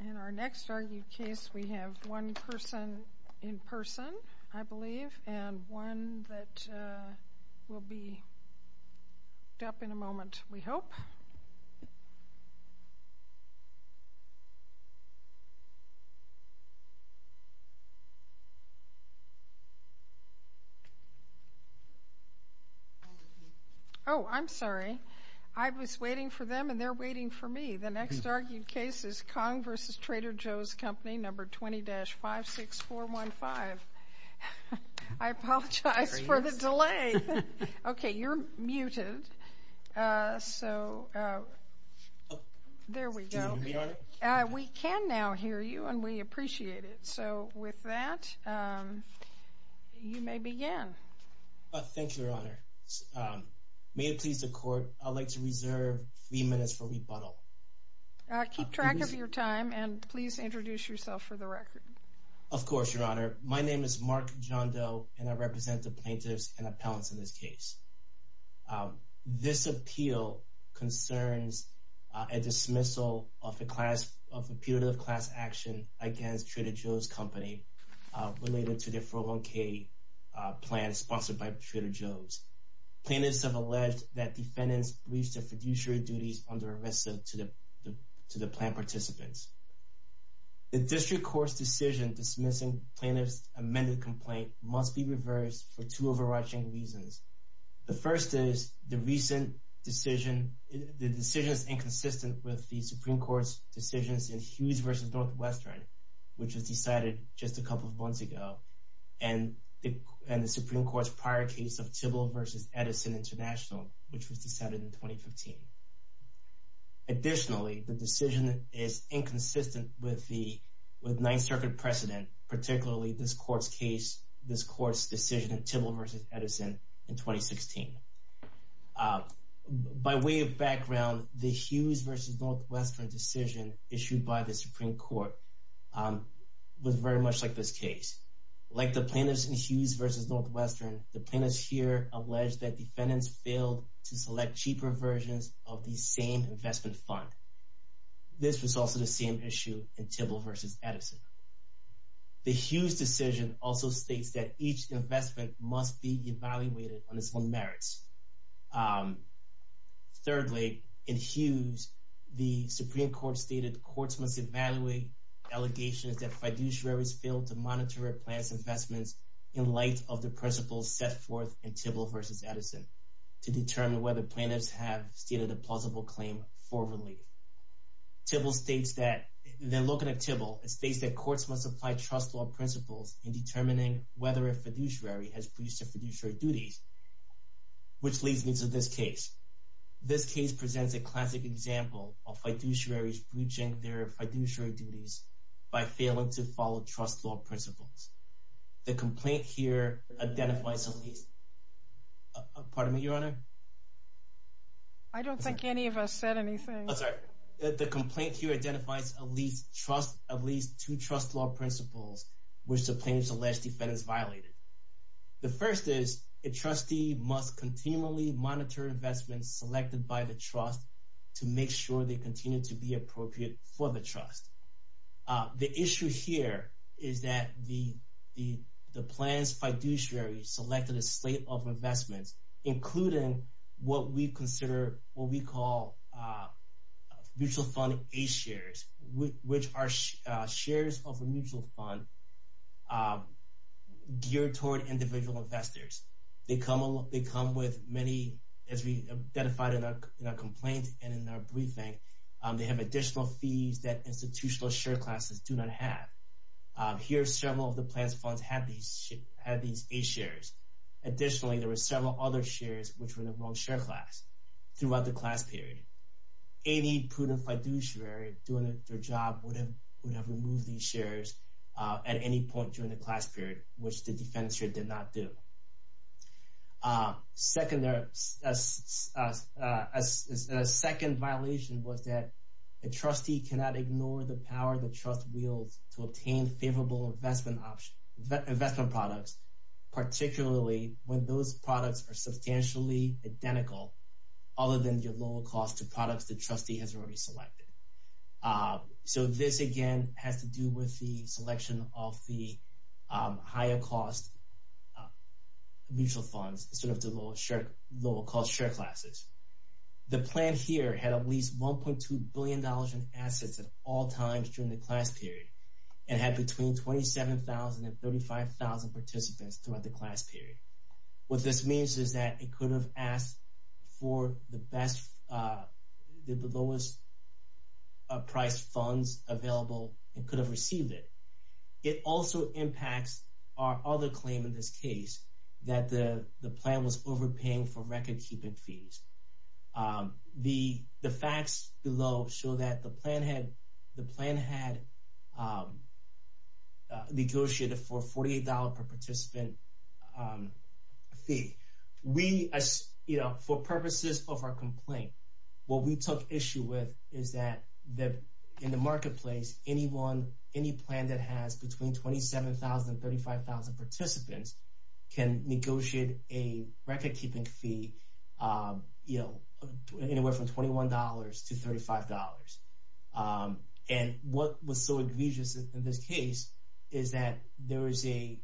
In our next argued case, we have one person in person, I believe, and one that will be Oh, I'm sorry. I was waiting for them, and they're waiting for me. The next argued case is Kong v. Trader Joe's Company, Number 20-56415. I apologize for the delay. Okay, you're muted. So there we go. We can now hear you, and we appreciate it. So with that, you may begin. Thank you, Your Honor. May it please the Court, I'd like to reserve three minutes for rebuttal. Keep track of your time, and please introduce yourself for the record. Of course, Your Honor. My name is Mark John Doe, and I represent the plaintiffs and appellants in this case. This appeal concerns a dismissal of a punitive class action against Trader Joe's Company related to the 401k plan sponsored by Trader Joe's. Plaintiffs have alleged that defendants reached a fiduciary duties under arrest to the plan participants. The District Court's decision dismissing plaintiffs' amended complaint must be reversed for two overarching reasons. The first is the decision is inconsistent with the Supreme Court's decisions in Hughes v. Northwestern, which was decided just a couple of months ago, and the Supreme Court's prior case of Tybill v. Edison International, which was decided in 2015. Additionally, the decision is inconsistent with Ninth Circuit precedent, particularly this Court's decision in Tybill v. Edison in 2016. By way of background, the Hughes v. Northwestern decision issued by the Supreme Court was very much like this case. Like the plaintiffs in Hughes v. Northwestern, the plaintiffs here allege that defendants failed to select cheaper versions of the same investment fund. This was also the same issue in Tybill v. Edison. The Hughes decision also states that each investment must be evaluated on its own merits. Thirdly, in Hughes, the Supreme Court stated courts must evaluate allegations that fiduciaries failed to monitor a plaintiff's investments in light of the principles set forth in Tybill v. Edison to determine whether plaintiffs have stated a plausible claim for relief. Tybill states that courts must apply trust law principles in determining whether a fiduciary has breached their fiduciary duties, which leads me to this case. This case presents a classic example of fiduciaries breaching their fiduciary duties by failing to follow trust law principles. The complaint here identifies at least two trust law principles which the plaintiffs allege defendants violated. The first is a trustee must continually monitor investments selected by the trust to make sure they continue to be appropriate for the trust. The issue here is that the plaintiff's fiduciary selected a slate of investments, including what we consider what we call mutual fund A-shares, which are shares of a mutual fund geared toward individual investors. They come with many, as we identified in our complaint and in our briefing, they have additional fees that institutional share classes do not have. Here, several of the plaintiff's funds have these A-shares. Additionally, there were several other shares which were in the wrong share class throughout the class period. Any prudent fiduciary doing their job would have removed these shares at any point during the class period, which the defense did not do. A second violation was that a trustee cannot ignore the power the trust wields to obtain favorable investment products, particularly when those products are substantially identical other than the lower cost of products the trustee has already selected. This, again, has to do with the selection of the higher cost mutual funds instead of the lower cost share classes. The plan here had at least $1.2 billion in assets at all times during the class period and had between 27,000 and 35,000 participants throughout the class period. What this means is that it could have asked for the lowest price funds available and could have received it. It also impacts our other claim in this case that the plan was overpaying for record-keeping fees. The facts below show that the plan had negotiated for a $48 per participant fee. For purposes of our complaint, what we took issue with is that in the marketplace, any plan that has between 27,000 and 35,000 participants can negotiate a record-keeping fee anywhere from $21 to $35. What was so egregious in this case is that the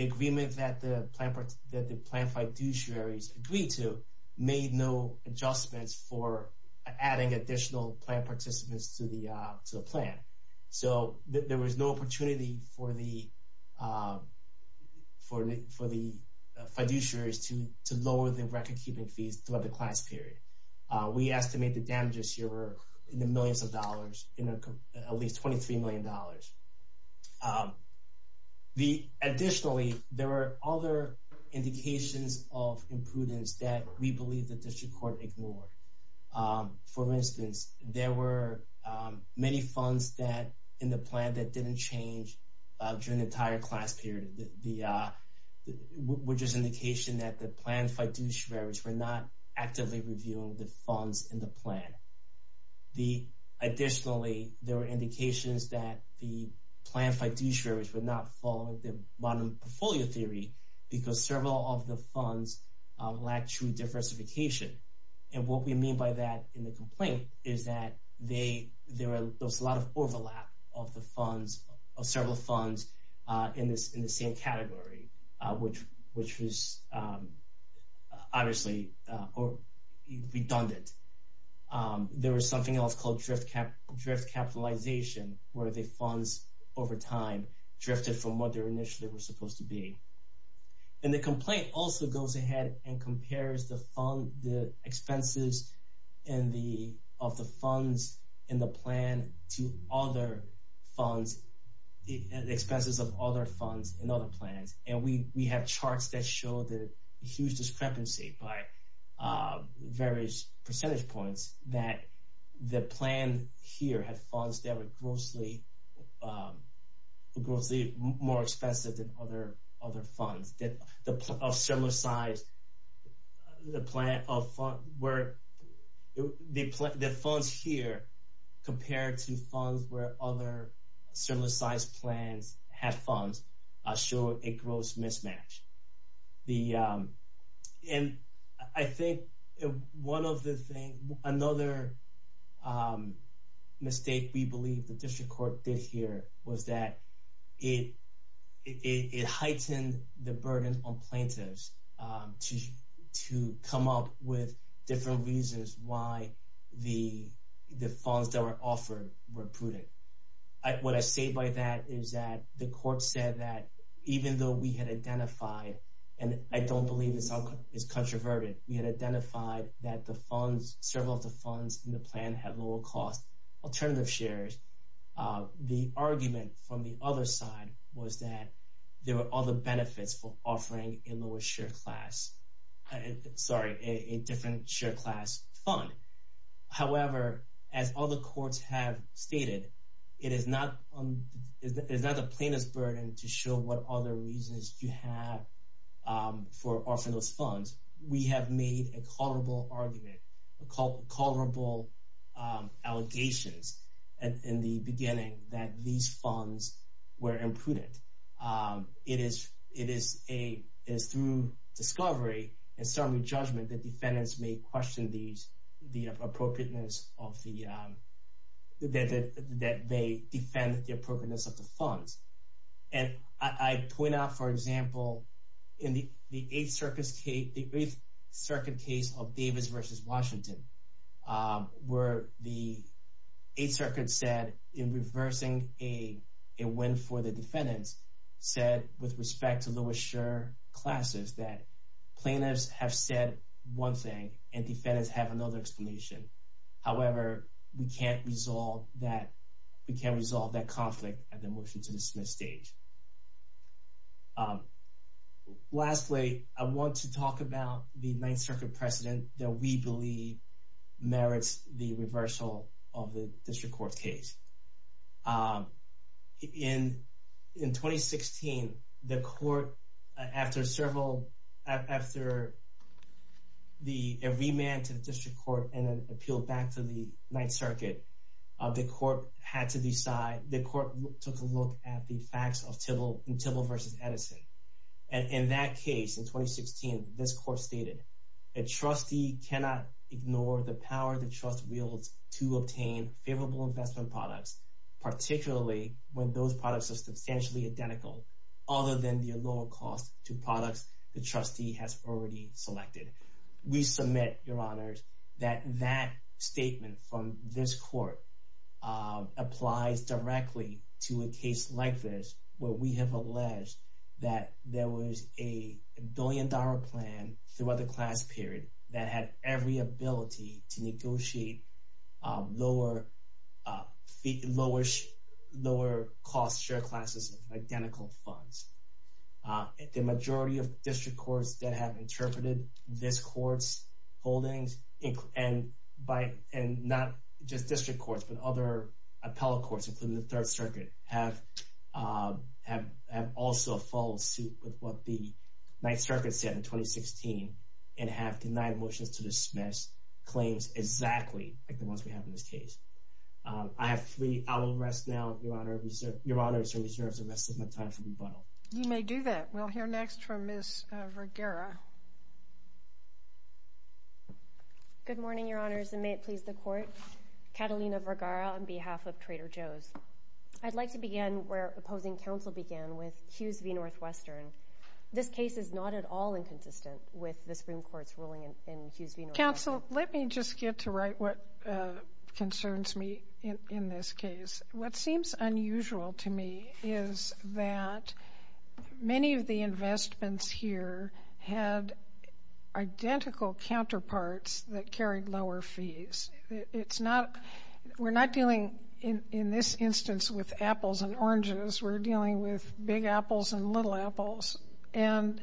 agreement that the plan fiduciaries agreed to made no adjustments for adding additional plan participants to the plan. There was no opportunity for the fiduciaries to lower the record-keeping fees throughout the class period. We estimate the damages here were in the millions of dollars, at least $23 million. Additionally, there were other indications of imprudence that we believe the district court ignored. For instance, there were many funds in the plan that didn't change during the entire class period, which is an indication that the plan fiduciaries were not actively reviewing the funds in the plan. Additionally, there were indications that the plan fiduciaries were not following the bottom portfolio theory because several of the funds lacked true diversification. What we mean by that in the complaint is that there was a lot of overlap of several funds in the same category, which was obviously redundant. There was something else called drift capitalization, where the funds over time drifted from what they were initially supposed to be. The complaint also goes ahead and compares the expenses of the funds in the plan to the expenses of other funds in other plans. We have charts that show the huge discrepancy by various percentage points that the plan here had funds that were grossly more expensive than other funds. We have charts that show the huge discrepancy by various percentage points that the plan here had funds that were grossly more expensive than other funds. Another mistake we believe the district court did here was that it heightened the burden on plaintiffs to come up with different reasons why the funds that were offered were prudent. What I say by that is that the court said that even though we had identified, and I don't believe this is controversial, we had identified that several of the funds in the plan had lower cost alternative shares, the argument from the other side was that there were other benefits for offering a different share class fund. However, as other courts have stated, it is not the plaintiff's burden to show what other reasons you have for offering those funds. We have made a culpable argument, culpable allegations in the beginning that these funds were imprudent. It is through discovery and summary judgment that defendants may question the appropriateness of the, that they defend the appropriateness of the funds. And I point out, for example, in the Eighth Circuit case of Davis versus Washington, where the Eighth Circuit said in reversing a win for the defendants said with respect to Lewis Shur classes that plaintiffs have said one thing and defendants have another explanation. However, we can't resolve that, we can't resolve that conflict at the motion to dismiss stage. Lastly, I want to talk about the Ninth Circuit precedent that we believe merits the reversal of the district court case. In 2016, the court, after several, after a remand to the district court and an appeal back to the Ninth Circuit, the court had to decide, the court took a look at the facts of Tibble versus Edison. And in that case, in 2016, this court stated, a trustee cannot ignore the power the trust wields to obtain favorable investment products, particularly when those products are substantially identical, other than the lower cost to products the trustee has already selected. We submit, Your Honors, that that statement from this court applies directly to a case like this, where we have alleged that there was a billion dollar plan throughout the class period that had every ability to negotiate lower cost share classes of identical funds. The majority of district courts that have interpreted this court's holdings, and not just district courts, but other appellate courts, including the Third Circuit, have also followed suit with what the Ninth Circuit said in 2016, and have denied motions to dismiss claims exactly like the ones we have in this case. I have three hours rest now, Your Honors, and reserve the rest of my time for rebuttal. You may do that. We'll hear next from Ms. Vergara. Good morning, Your Honors, and may it please the court. Catalina Vergara on behalf of Trader Joe's. I'd like to begin where opposing counsel began with Hughes v. Northwestern. This case is not at all inconsistent with the Supreme Court's ruling in Hughes v. Northwestern. Counsel, let me just get to right what concerns me in this case. What seems unusual to me is that many of the investments here had identical counterparts that carried lower fees. We're not dealing, in this instance, with apples and oranges. We're dealing with big apples and little apples. And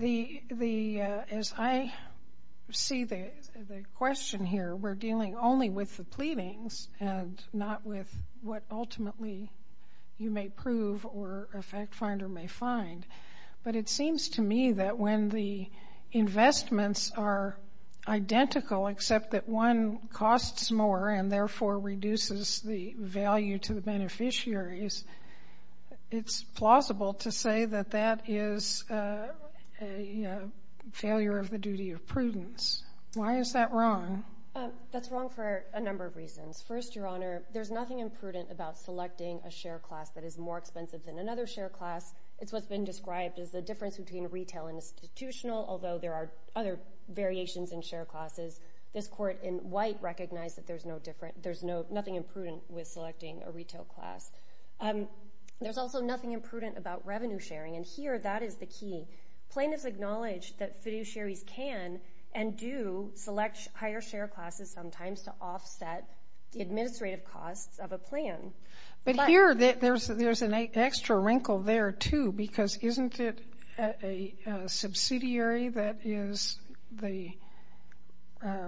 as I see the question here, we're dealing only with the pleadings and not with what ultimately you may prove or a fact finder may find. But it seems to me that when the investments are identical except that one costs more and therefore reduces the value to the beneficiaries, it's plausible to say that that is a failure of the duty of prudence. Why is that wrong? That's wrong for a number of reasons. First, Your Honor, there's nothing imprudent about selecting a share class that is more expensive than another share class. It's what's been described as the difference between retail and institutional, although there are other variations in share classes. This court in white recognized that there's nothing imprudent with selecting a retail class. There's also nothing imprudent about revenue sharing, and here that is the key. Plaintiffs acknowledge that fiduciaries can and do select higher share classes sometimes to offset the administrative costs of a plan. But here, there's an extra wrinkle there, too, because isn't it a subsidiary that is the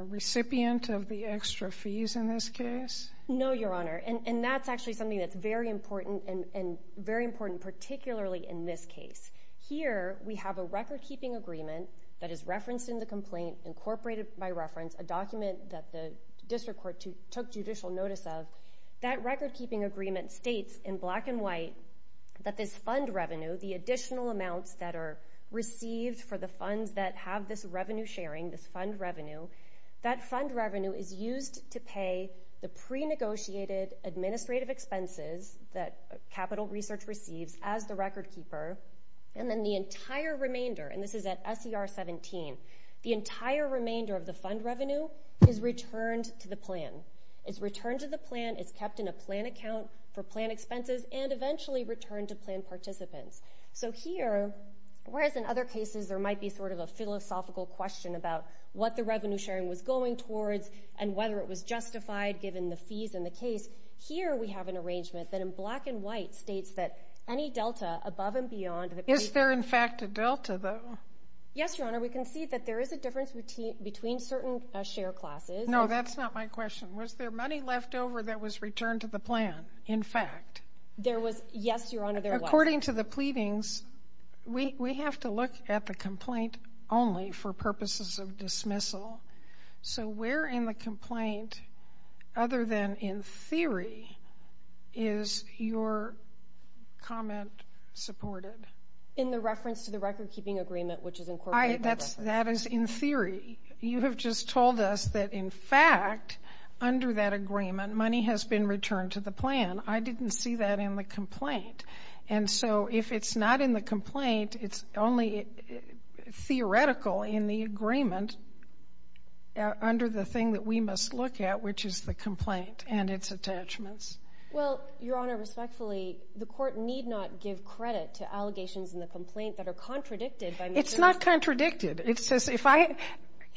recipient of the extra fees in this case? No, Your Honor, and that's actually something that's very important and very important particularly in this case. Here, we have a record-keeping agreement that is referenced in the complaint, incorporated by reference, a document that the district court took judicial notice of. That record-keeping agreement states in black and white that this fund revenue, the additional amounts that are received for the funds that have this revenue sharing, this fund revenue, that fund revenue is used to pay the pre-negotiated administrative expenses that Capital Research receives as the record-keeper, and then the entire remainder, and this is at SER 17, the entire remainder of the fund revenue is returned to the plan. It's returned to the plan, it's kept in a plan account for plan expenses, and eventually returned to plan participants. So here, whereas in other cases there might be sort of a philosophical question about what the revenue sharing was going towards, and whether it was justified given the fees in the case, here we have an arrangement that in black and white states that any delta above and beyond. Is there in fact a delta, though? Yes, Your Honor, we can see that there is a difference between certain share classes. No, that's not my question. Was there money left over that was returned to the plan, in fact? There was, yes, Your Honor, there was. In the proceedings, we have to look at the complaint only for purposes of dismissal. So where in the complaint, other than in theory, is your comment supported? In the reference to the record-keeping agreement, which is incorporated. That is in theory. You have just told us that in fact, under that agreement, money has been returned to the plan. I didn't see that in the complaint. And so if it's not in the complaint, it's only theoretical in the agreement under the thing that we must look at, which is the complaint and its attachments. Well, Your Honor, respectfully, the court need not give credit to allegations in the complaint that are contradicted by the jury. It's not contradicted. It says if I,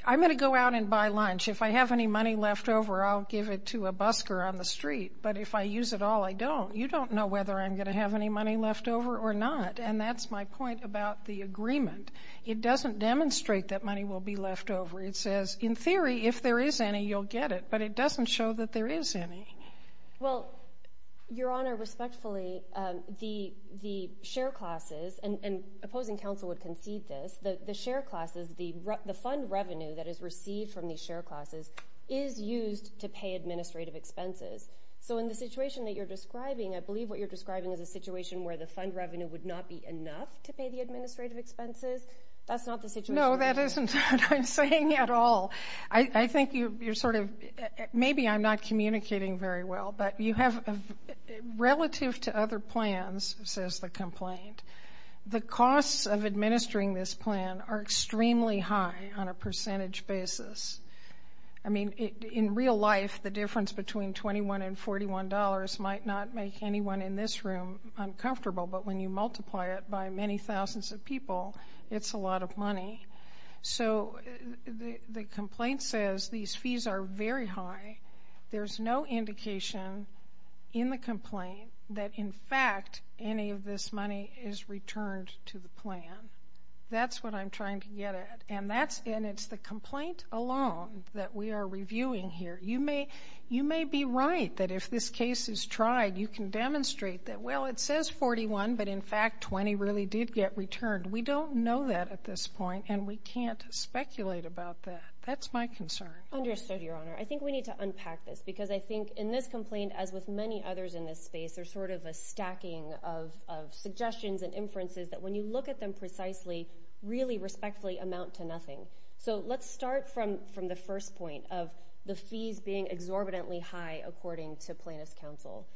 I'm going to go out and buy lunch. If I have any money left over, I'll give it to a busker on the street. But if I use it all, I don't. You don't know whether I'm going to have any money left over or not. And that's my point about the agreement. It doesn't demonstrate that money will be left over. It says, in theory, if there is any, you'll get it. But it doesn't show that there is any. Well, Your Honor, respectfully, the share classes, and opposing counsel would concede this, the share classes, the fund revenue that is received from these share classes is used to pay administrative expenses. So in the situation that you're describing, I believe what you're describing is a situation where the fund revenue would not be enough to pay the administrative expenses. That's not the situation. No, that isn't what I'm saying at all. I think you're sort of, maybe I'm not communicating very well, but you have, relative to other plans, says the complaint, the costs of administering this plan are extremely high on a percentage basis. I mean, in real life, the difference between $21 and $41 might not make anyone in this room uncomfortable, but when you multiply it by many thousands of people, it's a lot of money. So the complaint says these fees are very high. There's no indication in the complaint that, in fact, any of this money is returned to the plan. That's what I'm trying to get at. And it's the complaint alone that we are reviewing here. You may be right that if this case is tried, you can demonstrate that, well, it says $41, but in fact, $20 really did get returned. We don't know that at this point, and we can't speculate about that. That's my concern. Understood, Your Honor. I think we need to unpack this, because I think in this complaint, as with many others in this space, there's sort of a stacking of suggestions and inferences that, when you look at them precisely, really respectfully amount to nothing. So let's start from the first point of the fees being exorbitantly high, according to plaintiff's counsel.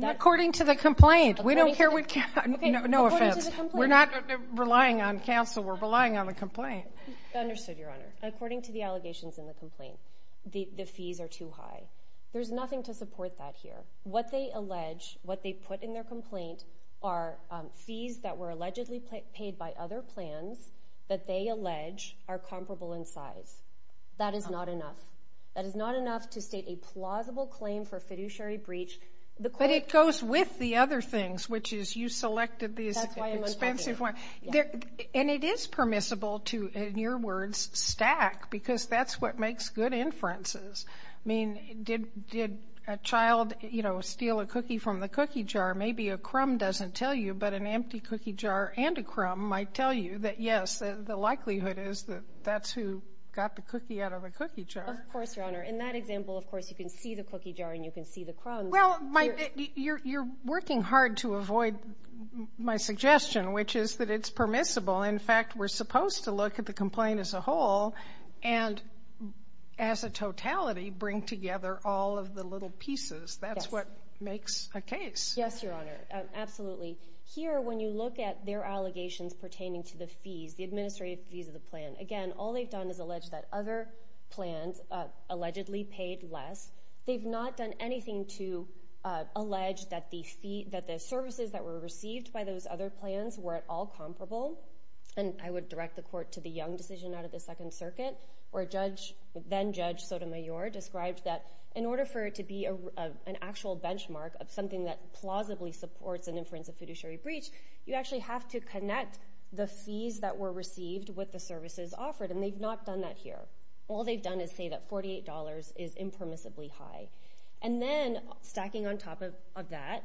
According to the complaint. We don't care what counsel... No offense. According to the complaint. We're not relying on counsel. We're relying on the complaint. Understood, Your Honor. According to the allegations in the complaint, the fees are too high. There's nothing to support that here. What they allege, what they put in their complaint are fees that were allegedly paid by other plans that they allege are comparable in size. That is not enough. That is not enough to state a plausible claim for fiduciary breach. But it goes with the other things, which is you selected these expensive... That's why I'm unpacking it. And it is permissible to, in your words, stack, because that's what makes good inferences. I mean, did a child, you know, steal a cookie from the cookie jar? Maybe a crumb doesn't tell you, but an empty cookie jar and a crumb might tell you that, yes, the likelihood is that that's who got the cookie out of the cookie jar. Of course, Your Honor. In that example, of course, you can see the cookie jar and you can see the crumb. Well, you're working hard to avoid my suggestion, which is that it's permissible. In fact, we're supposed to look at the complaint as a whole. And as a totality, bring together all of the little pieces. That's what makes a case. Yes, Your Honor. Absolutely. Here, when you look at their allegations pertaining to the fees, the administrative fees of the plan, again, all they've done is allege that other plans allegedly paid less. They've not done anything to allege that the services that were received by those other plans were at all comparable. And I would direct the court to the Young decision out of the Second Circuit, where then-Judge Sotomayor described that in order for it to be an actual benchmark of something that plausibly supports an inference of fiduciary breach, you actually have to connect the fees that were received with the services offered. And they've not done that here. All they've done is say that $48 is impermissibly high. And then, stacking on top of that,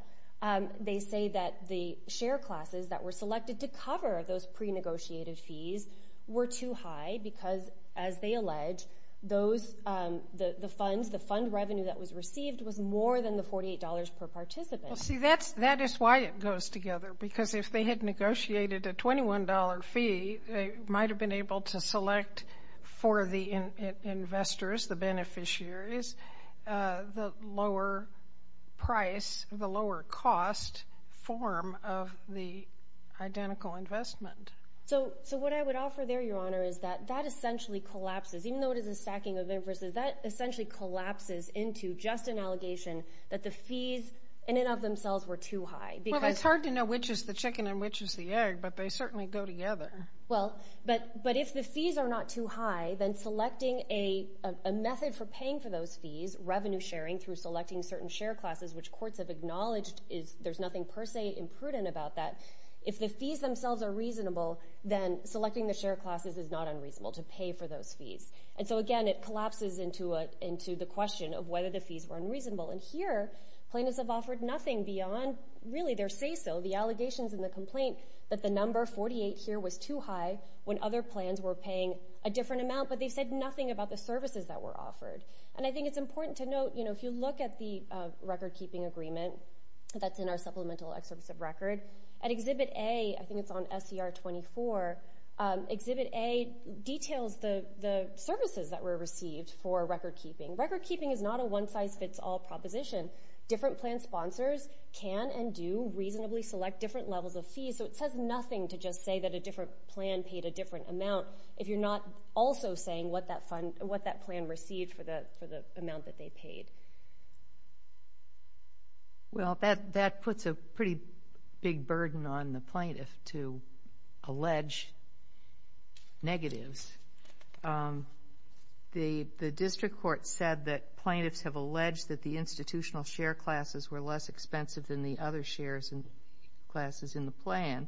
they say that the share classes that were selected to cover those pre-negotiated fees were too high because, as they allege, the fund revenue that was received was more than the $48 per participant. Well, see, that is why it goes together. Because if they had negotiated a $21 fee, they might have been able to select for the investors, the beneficiaries, the lower price, the lower cost form of the identical investment. So what I would offer there, Your Honor, is that that essentially collapses, even though it is a stacking of inferences, that essentially collapses into just an allegation that the fees in and of themselves were too high. Well, it's hard to know which is the chicken and which is the egg, but they certainly go together. Well, but if the fees are not too high, then selecting a method for paying for those fees, revenue sharing through selecting certain share classes, which courts have acknowledged there's nothing per se imprudent about that. If the fees themselves are reasonable, then selecting the share classes is not unreasonable to pay for those fees. And so, again, it collapses into the question of whether the fees were unreasonable. And here, plaintiffs have offered nothing beyond really their say-so, the allegations and the complaint that the number 48 here was too high when other plans were paying a different amount. But they've said nothing about the services that were offered. And I think it's important to note, you know, if you look at the record-keeping agreement that's in our supplemental excerpts of record, at Exhibit A, I think it's on SCR 24, Exhibit A details the services that were received for record-keeping. Record-keeping is not a one-size-fits-all proposition. Different plan sponsors can and do reasonably select different levels of fees, so it says nothing to just say that a different plan paid a different amount if you're not also saying what that plan received for the amount that they paid. Well, that puts a pretty big burden on the plaintiff to allege negatives. The district court said that plaintiffs have alleged that the institutional share classes were less expensive than the other shares and classes in the plan,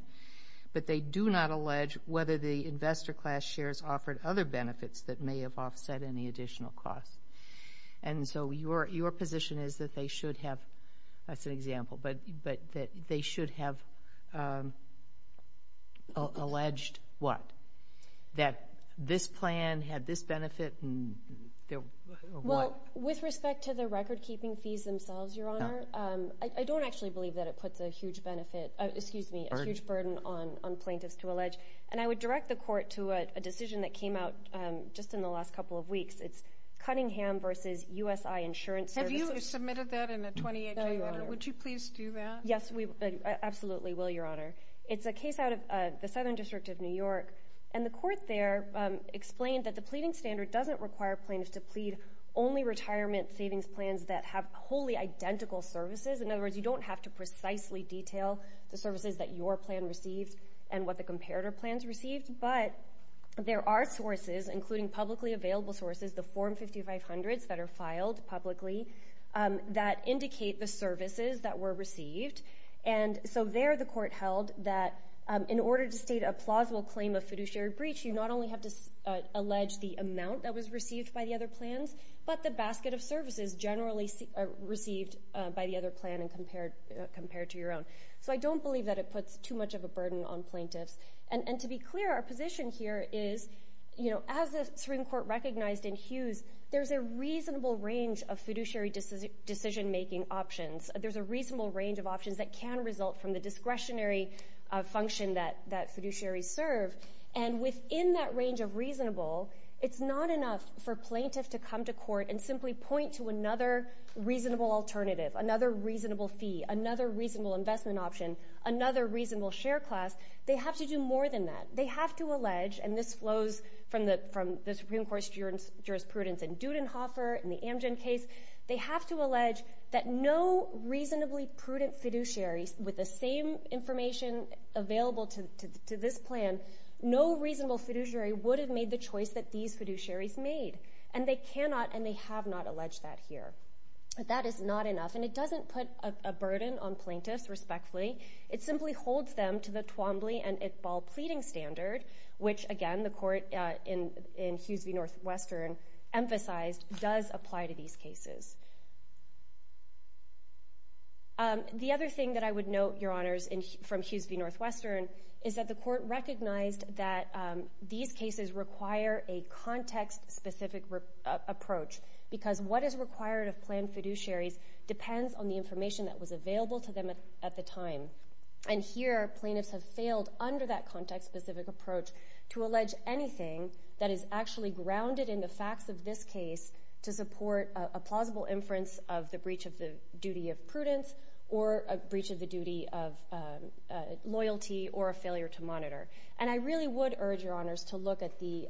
but they do not allege whether the investor class shares offered other benefits that may have offset any additional costs. And so your position is that they should have, that's an example, but that they should have alleged what? That this plan had this benefit? Well, with respect to the record-keeping fees themselves, Your Honor, I don't actually believe that it puts a huge benefit, excuse me, a huge burden on plaintiffs to allege. And I would direct the court to a decision that came out just in the last couple of weeks. It's Cunningham v. USI Insurance Services. Have you submitted that in a 28-day letter? Would you please do that? Yes, we absolutely will, Your Honor. It's a case out of the Southern District of New York. And the court there explained that the pleading standard doesn't require plaintiffs to plead only retirement savings plans that have wholly identical services. In other words, you don't have to precisely detail the services that your plan received and what the comparator plans received. But there are sources, including publicly available sources, the Form 5500s that are filed publicly that indicate the services that were received. And so there the court held that in order to state a plausible claim of fiduciary breach, you not only have to allege the amount that was received by the other plans, but the basket of services generally received by the other plan and compared to your own. So I don't believe that it puts too much of a burden on plaintiffs. And to be clear, our position here is, you know, as the Supreme Court recognized in Hughes, there's a reasonable range of fiduciary decision-making options. There's a reasonable range of options that can result from the discretionary function that fiduciaries serve. And within that range of reasonable, it's not enough for plaintiffs to come to court and simply point to another reasonable alternative, another reasonable fee, another reasonable investment option, another reasonable share class. They have to do more than that. And this flows from the Supreme Court's jurisprudence in Dudenhofer, in the Amgen case. They have to allege that no reasonably prudent fiduciary with the same information available to this plan, no reasonable fiduciary would have made the choice that these fiduciaries made. And they cannot and they have not alleged that here. That is not enough. And it doesn't put a burden on plaintiffs, respectfully. It simply holds them to the Twombly and Iqbal pleading standard, which, again, the court in Hughes v. Northwestern emphasized does apply to these cases. The other thing that I would note, Your Honors, from Hughes v. Northwestern is that the court recognized that these cases require a context-specific approach. Because what is required of planned fiduciaries depends on the information that was available to them at the time. And here, plaintiffs have failed under that context-specific approach to allege anything that is actually grounded in the facts of this case to support a plausible inference of the breach of the duty of prudence or a breach of the duty of loyalty or a failure to monitor. And I really would urge, Your Honors, to look at the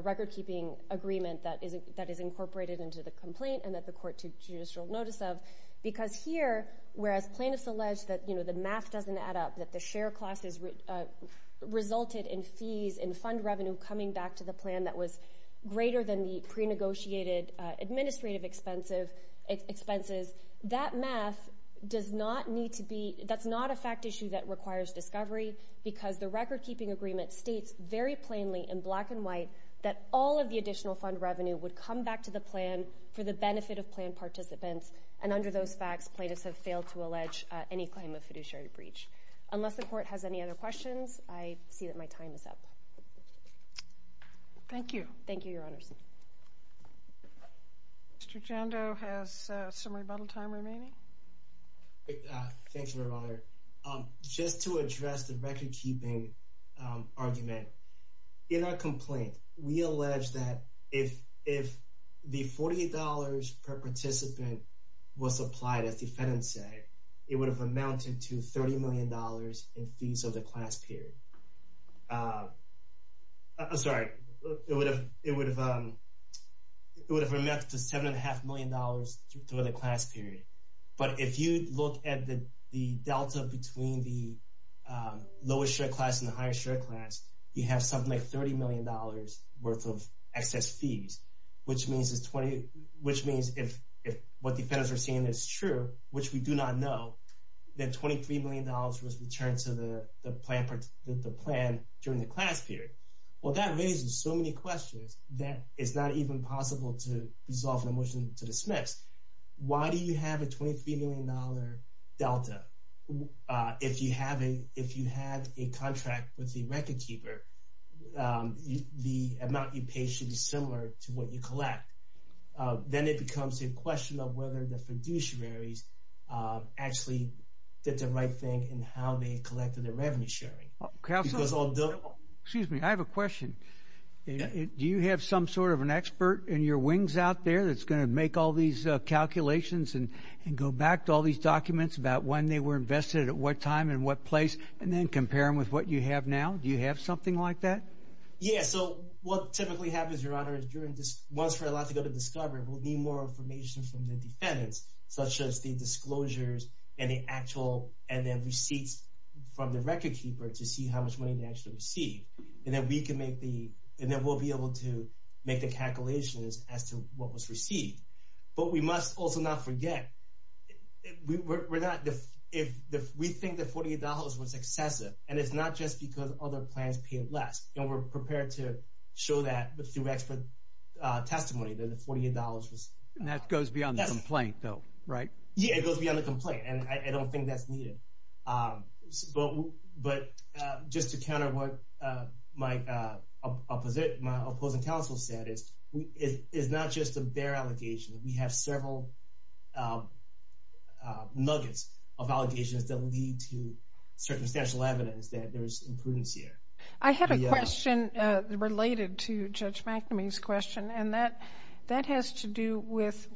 record-keeping agreement that is incorporated into the complaint and that the court took judicial notice of. Because here, whereas plaintiffs allege that the math doesn't add up, that the share classes resulted in fees and fund revenue coming back to the plan that was greater than the pre-negotiated administrative expenses, that math does not need to be—that's not a fact issue that requires discovery because the record-keeping agreement states very plainly in black and white that all of the additional fund revenue would come back to the plan for the benefit of planned participants. And under those facts, plaintiffs have failed to allege any claim of fiduciary breach. Unless the court has any other questions, I see that my time is up. Thank you. Thank you, Your Honors. Mr. Jando has some rebuttal time remaining. Thank you, Your Honor. Just to address the record-keeping argument, in our complaint, we allege that if the $40 per participant was supplied, as the defendants say, it would have amounted to $30 million in fees of the class period. I'm sorry. It would have amounted to $7.5 million through the class period. But if you look at the delta between the lowest-shared class and the highest-shared class, you have something like $30 million worth of excess fees, which means if what the defendants are saying is true, which we do not know, that $23 million was returned to the plan during the class period. Well, that raises so many questions that it's not even possible to resolve the motion to dismiss. Why do you have a $23 million delta? If you have a contract with the record-keeper, the amount you pay should be similar to what you collect. Then it becomes a question of whether the fiduciaries actually did the right thing in how they collected their revenue sharing. Excuse me. I have a question. Do you have some sort of an expert in your wings out there that's going to make all these calculations and go back to all these documents about when they were invested at what time and what place and then compare them with what you have now? Do you have something like that? Yeah, so what typically happens, Your Honor, is once we're allowed to go to discovery, we'll need more information from the defendants, such as the disclosures and the actual – and then receipts from the record-keeper to see how much money they actually received. And then we can make the – and then we'll be able to make the calculations as to what was received. But we must also not forget we're not – we think the $48 was excessive, and it's not just because other plans paid less. We're prepared to show that through expert testimony that the $48 was excessive. And that goes beyond the complaint, though, right? Yeah, it goes beyond the complaint, and I don't think that's needed. But just to counter what my opposing counsel said, it's not just a bare allegation. We have several nuggets of allegations that lead to circumstantial evidence that there is imprudence here. I have a question related to Judge McNamee's question, and that has to do with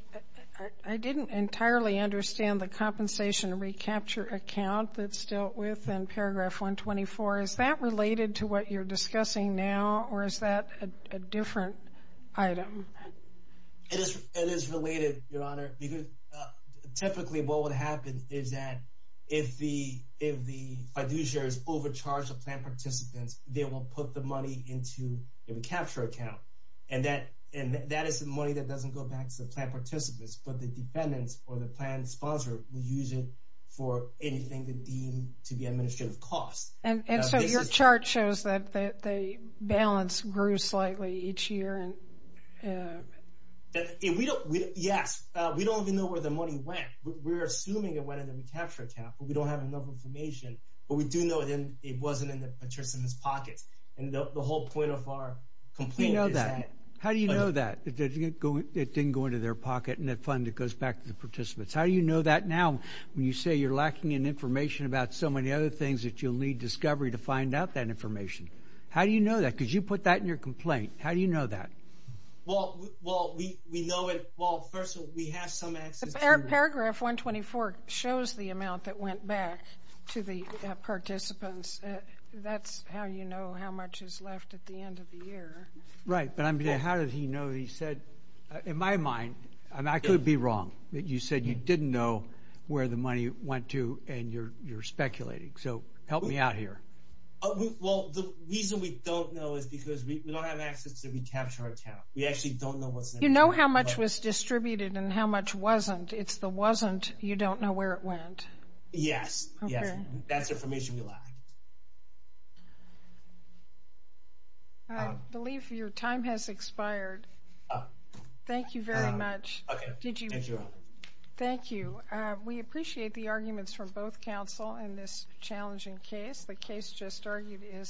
– I didn't entirely understand the compensation recapture account that's dealt with in paragraph 124. Is that related to what you're discussing now, or is that a different item? It is related, Your Honor, because typically what would happen is that if the fiduciaries overcharge the plan participants, they will put the money into a recapture account. And that is the money that doesn't go back to the plan participants, but the defendants or the plan sponsor will use it for anything that deemed to be administrative costs. And so your chart shows that the balance grew slightly each year. Yes. We don't even know where the money went. We're assuming it went in the recapture account, but we don't have enough information. But we do know it wasn't in the participants' pockets, and the whole point of our complaint is that – How do you know that? It didn't go into their pocket, and the fund, it goes back to the participants. How do you know that now when you say you're lacking in information about so many other things that you'll need discovery to find out that information? How do you know that? Because you put that in your complaint. How do you know that? Well, we know it – well, first of all, we have some access to it. Paragraph 124 shows the amount that went back to the participants. That's how you know how much is left at the end of the year. Right. But I mean, how does he know that he said – in my mind, I could be wrong that you said you didn't know where the money went to, and you're speculating. So help me out here. Well, the reason we don't know is because we don't have access to the recapture account. We actually don't know what's in there. You know how much was distributed and how much wasn't. It's the wasn't, you don't know where it went. Yes. Okay. That's information we lack. I believe your time has expired. Oh. Thank you very much. Okay. Thank you. Thank you. We appreciate the arguments from both counsel in this challenging case. The case just argued is submitted.